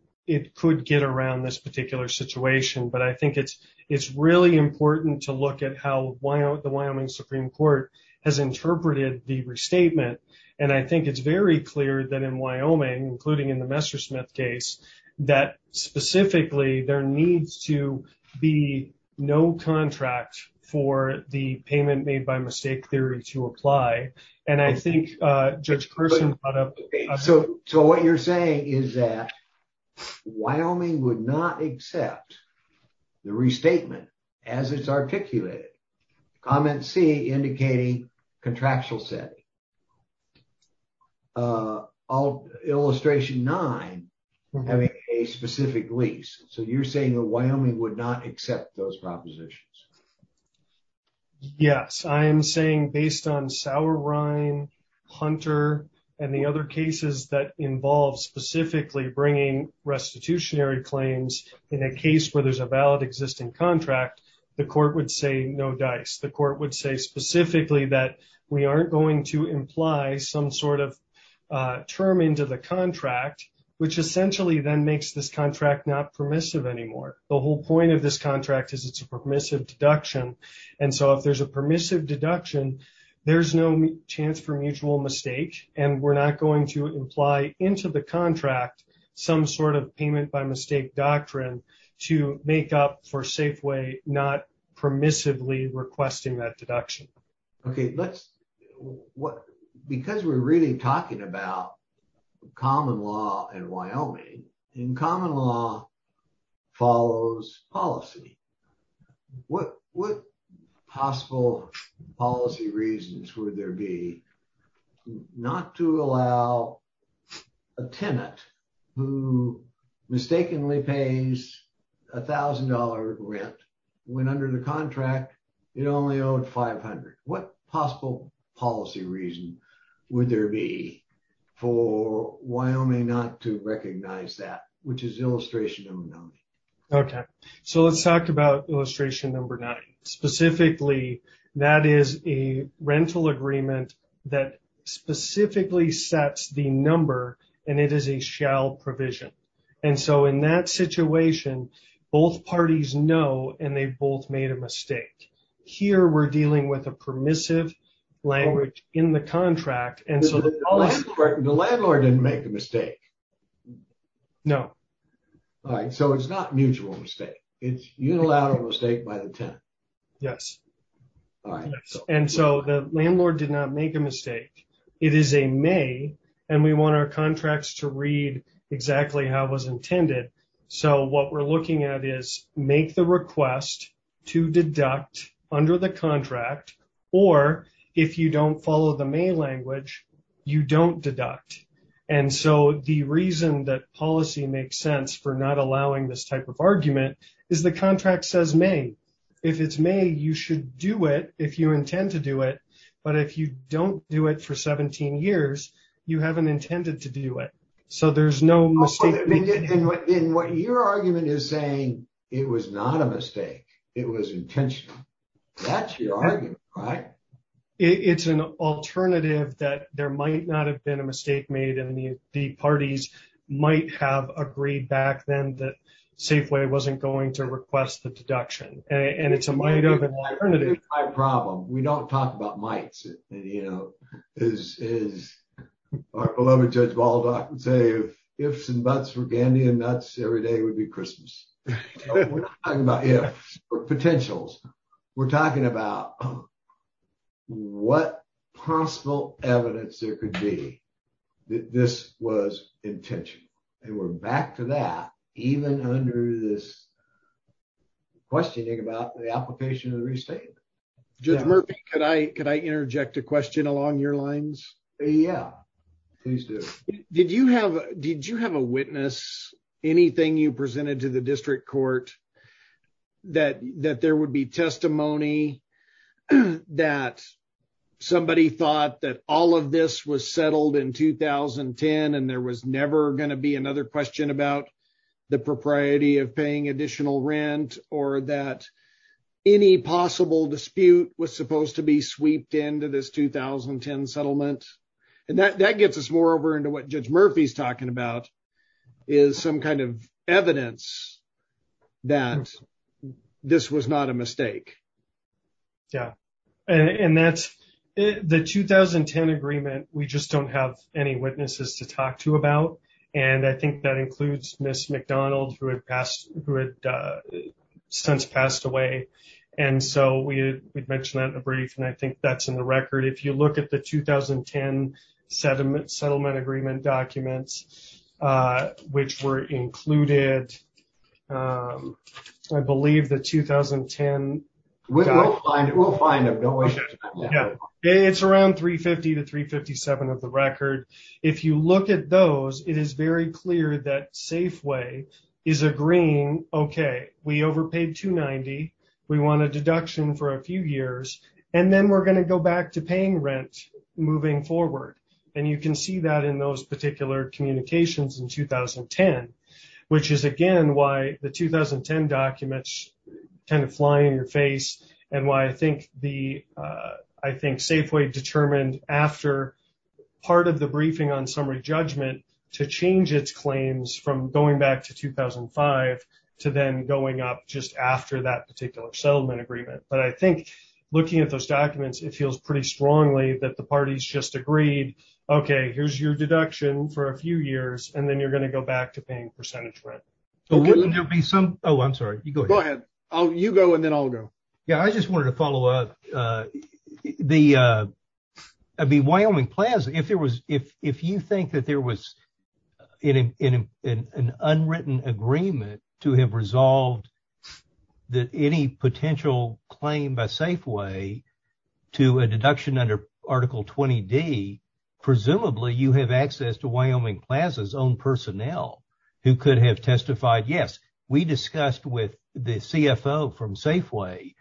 could get around this particular situation. But I think it's really important to look at how the Wyoming Supreme Court has interpreted the restatement. And I think it's very clear that in Wyoming, including in the Messersmith case, that specifically there needs to be no contract for the payment made by mistake theory to apply. And I think Judge Carson brought up- So what you're saying is that Wyoming would not accept the restatement as it's articulated. Comment C, indicating contractual setting. And I'll illustration nine, having a specific lease. So you're saying that Wyoming would not accept those propositions. Yes, I am saying based on Sauerrein, Hunter, and the other cases that involve specifically bringing restitutionary claims in a case where there's a valid existing contract, the court would say no dice. The court would say specifically that we aren't going to imply some sort of term into the contract, which essentially then makes this contract not permissive anymore. The whole point of this contract is it's a permissive deduction. And so if there's a permissive deduction, there's no chance for mutual mistake. And we're not going to imply into the contract some sort of payment by mistake doctrine to make up for Safeway not permissively requesting that deduction. Okay, because we're really talking about common law in Wyoming, and common law follows policy, what possible policy reasons would there be not to allow a tenant who mistakenly pays $1,000 rent when under the contract it only owed $500? What possible policy reason would there be for Wyoming not to recognize that, which is illustration number nine? Okay, so let's talk about illustration number nine. Specifically, that is a rental agreement that specifically sets the number, and it is a shall provision. And so in that situation, both parties know, and they've both made a mistake. Here, we're dealing with a permissive language in the contract. And so the landlord didn't make a mistake. No. All right, so it's not mutual mistake. It's unilateral mistake by the tenant. Yes. All right. And so the landlord did not make a mistake. It is a may, and we want our contracts to read exactly how it was intended. So what we're looking at is, make the request to deduct under the contract, or if you don't follow the may language, you don't deduct. And so the reason that policy makes sense for not allowing this type of argument is the contract says may. If it's may, you should do it if you intend to do it. But if you don't do it for 17 years, you haven't intended to do it. So there's no mistake. And what your argument is saying, it was not a mistake. It was intentional. That's your argument, right? It's an alternative that there might not have been a mistake made, and the parties might have agreed back then that Safeway wasn't going to request the deduction. And it's a might of an alternative. It's my problem. We don't talk about mights. As our beloved Judge Baldock would say, ifs and buts were candy and nuts, every day would be Christmas. We're not talking about ifs or potentials. We're talking about what possible evidence there could be that this was intentional. And we're back to that, even under this questioning about the application of the restatement. Judge Murphy, could I interject a question along your lines? Yeah, please do. Did you have a witness, anything you presented to the district court, that there would be testimony that somebody thought that all of this was settled in 2010, and there was never going to be another question about the propriety of paying additional rent, or that any possible dispute was supposed to be sweeped into this 2010 settlement? And that gets us more over into what Judge Murphy's talking about, is some kind of evidence that this was not a mistake. Yeah, and the 2010 agreement, we just don't have any witnesses to talk to about. And I think that includes Ms. McDonald, who had since passed away. And so we had mentioned that in the brief, and I think that's in the record. If you look at the 2010 settlement agreement documents, which were included, I believe the 2010... We'll find them, don't worry. It's around 350 to 357 of the record. If you look at those, it is very clear that Safeway is agreeing, okay, we overpaid 290, we want a deduction for a few years, and then we're going to go back to paying rent moving forward. And you can see that in those particular communications in 2010, which is again, why the 2010 documents kind of fly in your face, and why I think the... I think Safeway determined after part of the briefing on summary judgment to change its claims from going back to 2005, to then going up just after that particular settlement agreement. But I think looking at those documents, it feels pretty strongly that the party's just agreed, okay, here's your deduction for a few years, and then you're going to go back to paying percentage rent. But wouldn't there be some... Oh, I'm sorry, you go ahead. Go ahead. You go and then I'll go. Yeah, I just wanted to follow up. I mean, Wyoming Plaza, if you think that there was an unwritten agreement to have resolved that any potential claim by Safeway to a deduction under Article 20D, presumably you have access to Wyoming Plaza's own personnel who could have testified, yes, we discussed with the CFO from Safeway,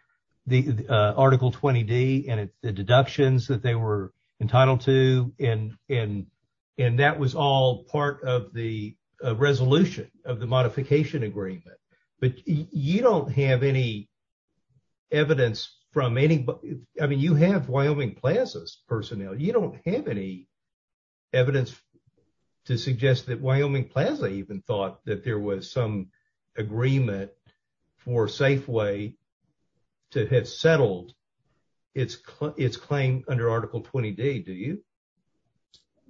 the Article 20D and the deductions that they were entitled to. And that was all part of the resolution of the modification agreement. But you don't have any evidence from any... I mean, you have Wyoming Plaza's personnel. You don't have any evidence to suggest that Wyoming Plaza even thought that there was some agreement for Safeway to have settled its claim under Article 20D, do you?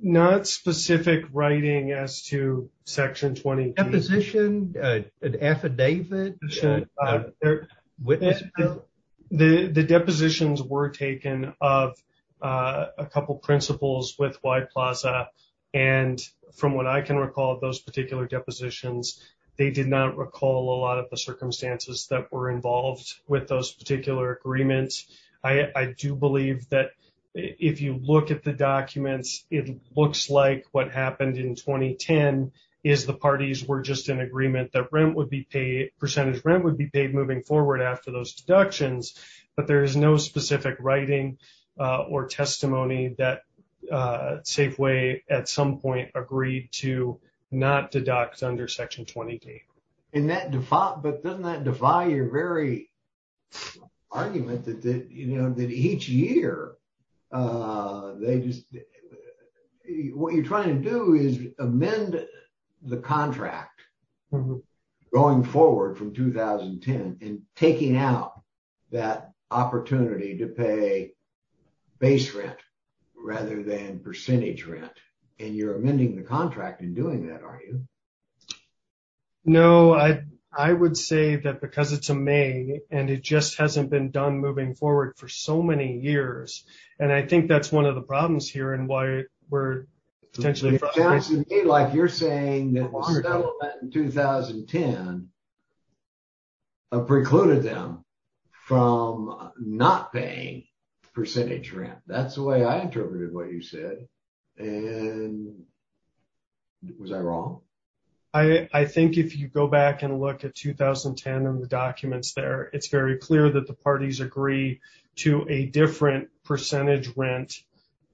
Not specific writing as to Section 20D. A deposition, an affidavit? The depositions were taken of a couple of principals with Y Plaza. And from what I can recall, those particular depositions, they did not recall a lot of the circumstances that were involved with those particular agreements. I do believe that if you look at the documents, it looks like what happened in 2010 is the parties were just in agreement that rent would be paid, percentage rent would be paid moving forward after those deductions. But there is no specific writing or testimony that Safeway at some point agreed to not deduct under Section 20D. But doesn't that defy your very argument that each year they just... What you're trying to do is amend the contract going forward from 2010 and taking out that opportunity to pay base rent rather than percentage rent. And you're amending the contract in doing that, are you? No, I would say that because it's a May and it just hasn't been done moving forward for so many years. And I think that's one of the problems here and why we're potentially... Like you're saying that the settlement in 2010 precluded them from not paying percentage rent. That's the way I interpreted what you said. And was I wrong? I think if you go back and look at 2010 and the documents there, it's very clear that the parties agree to a different percentage rent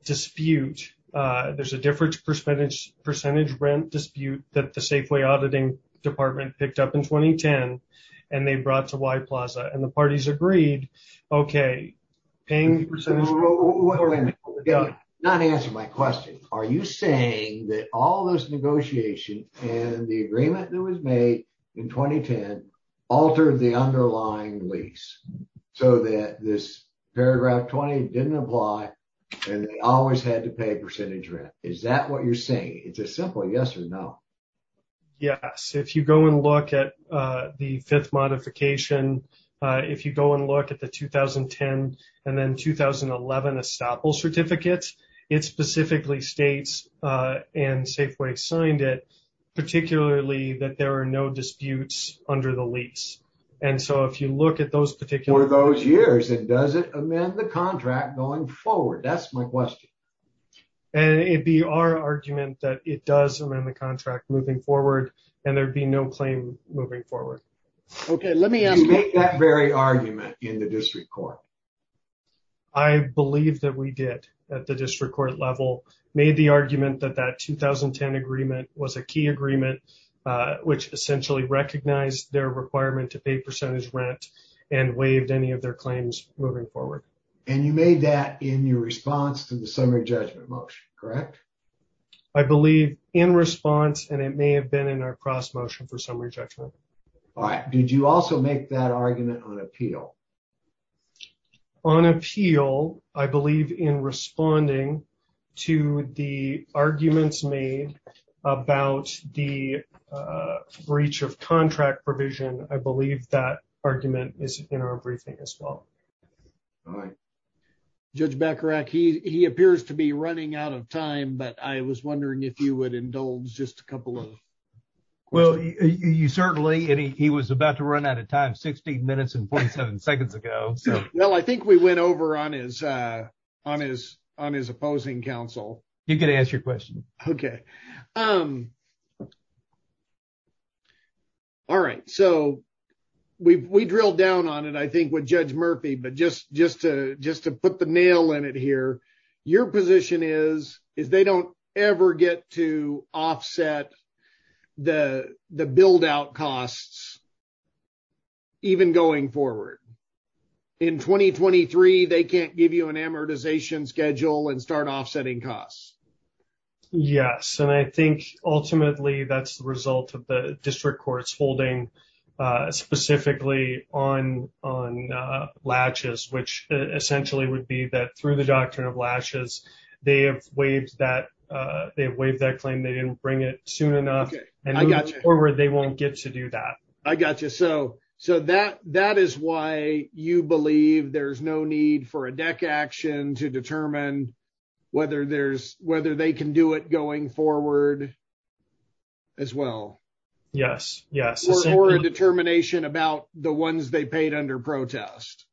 dispute. There's a different percentage rent dispute that the Safeway Auditing Department picked up in 2010 and they brought to Y Plaza and the parties agreed, okay, paying percentage... Not answer my question. Are you saying that all those negotiations and the agreement that was made in 2010 altered the underlying lease so that this paragraph 20 didn't apply and they always had to pay a percentage rent? Is that what you're saying? It's a simple yes or no. Yes. If you go and look at the fifth modification, if you go and look at the 2010 and then 2011 estoppel certificates, it specifically states and Safeway signed it, particularly that there are no disputes under the lease. And so if you look at those particular... For those years, and does it amend the contract going forward? That's my question. And it'd be our argument that it does amend the contract moving forward and there'd be no claim moving forward. Okay, let me ask... Did you make that very argument in the district court? I believe that we did at the district court level, made the argument that that 2010 agreement was a key agreement, which essentially recognized their requirement to pay percentage rent and waived any of their claims moving forward. And you made that in your response to the summary judgment motion, correct? I believe in response and it may have been in our cross motion for summary judgment. All right. Did you also make that argument on appeal? On appeal, I believe in responding to the arguments made about the breach of contract provision. I believe that argument is in our briefing as well. All right. Judge Bacharach, he appears to be running out of time, but I was wondering if you would indulge just a couple of... Well, you certainly... And he was about to run out of time 16 minutes and 47 seconds ago. Well, I think we went over on his opposing counsel. You can ask your question. Okay. All right. So we drilled down on it, I think with Judge Murphy, but just to put the nail in it here, your position is they don't ever get to offset the build out costs even going forward. In 2023, they can't give you an amortization schedule and start offsetting costs. Yes. And I think ultimately that's the result of the district courts holding specifically on latches, which essentially would be that through the doctrine of latches, they have waived that claim. They didn't bring it soon enough. And moving forward, they won't get to do that. I got you. So that is why you believe there's no need for a deck action to determine whether there's... Whether they can do it going forward as well. Yes. Or a determination about the ones they paid under protest.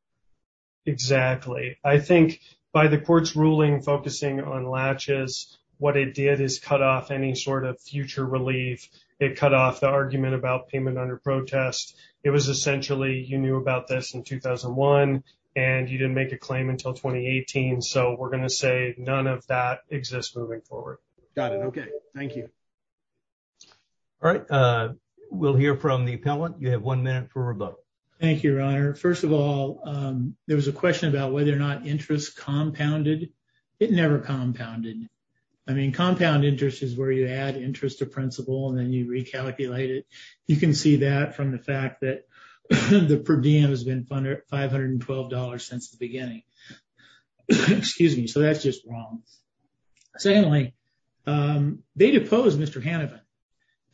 Exactly. I think by the court's ruling focusing on latches, what it did is cut off any sort of future relief. It cut off the argument about payment under protest. It was essentially, you knew about this in 2001 and you didn't make a claim until 2018. So we're going to say none of that exists moving forward. Got it. Okay. Thank you. All right. We'll hear from the appellant. You have one minute for rebuttal. Thank you, Your Honor. First of all, there was a question about whether or not interest compounded. It never compounded. I mean, compound interest is where you add interest to principal and then you recalculate it. You can see that from the fact that the per diem has been $512 since the beginning. Excuse me. So that's just wrong. Secondly, they deposed Mr. Hanavan.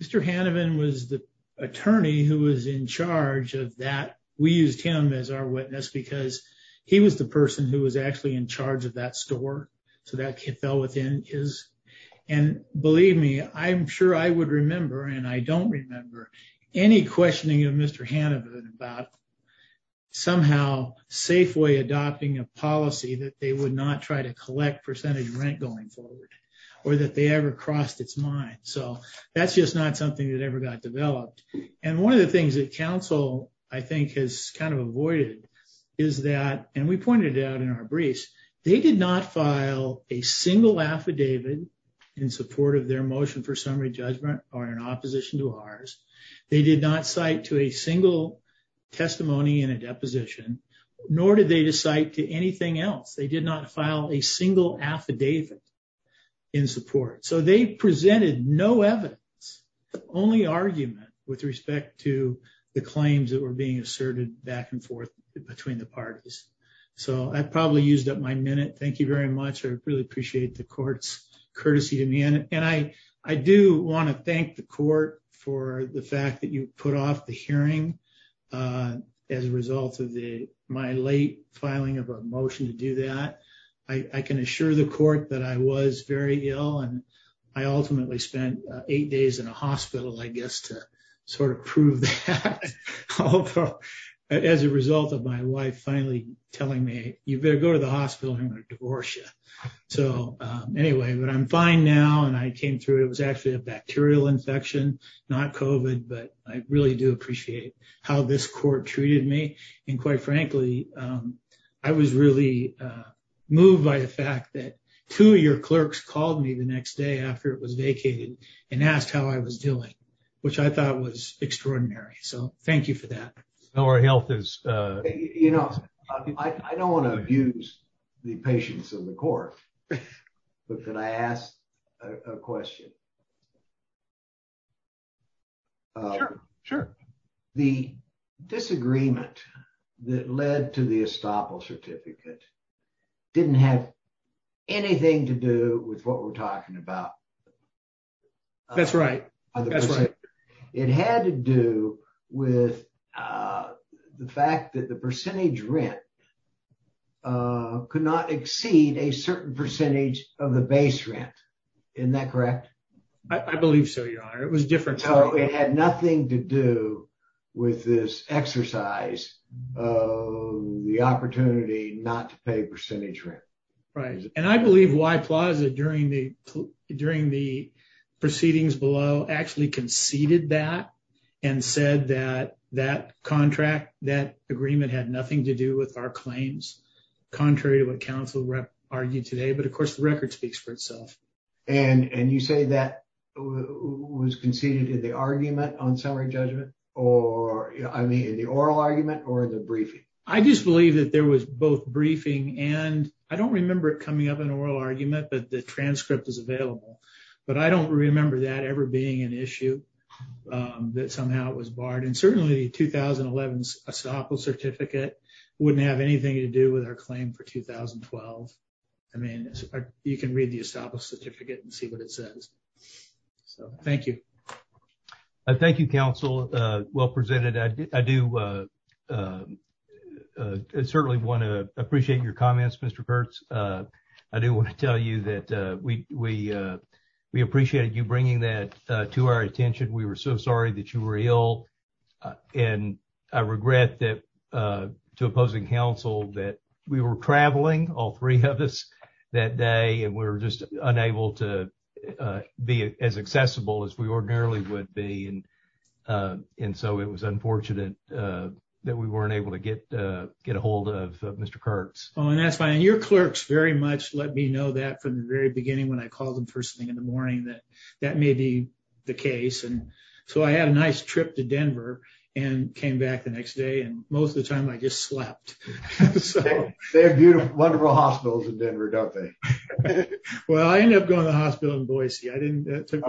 Mr. Hanavan was the attorney who was in charge of that. We used him as our witness because he was the person who was actually in charge of that store. So that fell within his. And believe me, I'm sure I would remember and I don't remember any questioning of Mr. Hanavan about somehow safe way adopting a policy that they would not try to collect percentage rent going forward or that they ever crossed its mind. So that's just not something that ever got developed. And one of the things that council, I think, has kind of avoided is that, and we pointed it out in our briefs, they did not file a single affidavit in support of their motion for summary judgment or in opposition to ours. They did not cite to a single testimony in a deposition, nor did they cite to anything else. They did not file a single affidavit in support. So they presented no evidence, only argument with respect to the claims that were being asserted back and forth between the parties. So I probably used up my minute. Thank you very much. I really appreciate the court's courtesy to me. And I do want to thank the court for the fact that you put off the hearing as a result of my late filing of a motion to do that. I can assure the court that I was very ill and I ultimately spent eight days in a hospital, I guess, to sort of prove that. As a result of my wife finally telling me, you better go to the hospital or I'm going to divorce you. So anyway, but I'm fine now. And I came through, it was actually a bacterial infection, not COVID, but I really do appreciate how this court treated me. And quite frankly, I was really moved by the fact that two of your clerks called me the next day after it was vacated and asked how I was doing, which I thought was extraordinary. So thank you for that. Our health is... You know, I don't want to abuse the patience of the court, but can I ask a question? Sure. The disagreement that led to the estoppel certificate didn't have anything to do with what we're talking about. That's right. It had to do with the fact that the percentage rent could not exceed a certain percentage of the base rent. Isn't that correct? I believe so, Your Honor. It was different. So it had nothing to do with this exercise of the opportunity not to pay percentage rent. Right. And I believe Y Plaza during the proceedings below actually conceded that and said that that contract, that agreement had nothing to do with our claims, contrary to what counsel argued today. But of course, the record speaks for itself. And you say that was conceded in the argument on summary judgment or in the oral argument or the briefing? I just believe that there was both briefing and I don't remember it but the transcript is available. But I don't remember that ever being an issue that somehow it was barred. And certainly 2011's estoppel certificate wouldn't have anything to do with our claim for 2012. I mean, you can read the estoppel certificate and see what it says. So thank you. Thank you, counsel. Well presented. I do certainly want to appreciate your comments, Mr. Kurtz. I do want to tell you that we appreciated you bringing that to our attention. We were so sorry that you were ill. And I regret that to opposing counsel that we were traveling, all three of us that day, and we were just unable to be as accessible as we ordinarily would be. And so it was unfortunate that we weren't able to get a hold of Mr. Kurtz. Oh, and that's fine. Your clerks very much let me know that from the very beginning when I called them first thing in the morning that that may be the case. And so I had a nice trip to Denver and came back the next day. And most of the time I just slept. They have beautiful, wonderful hospitals in Denver, don't they? Well, I ended up going to the hospital in Boise. I didn't. This is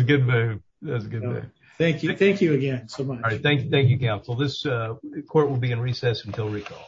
a good move. That's a good move. Thank you. Thank you again so much. All right. Thank you, counsel. This court will be in recess until recall.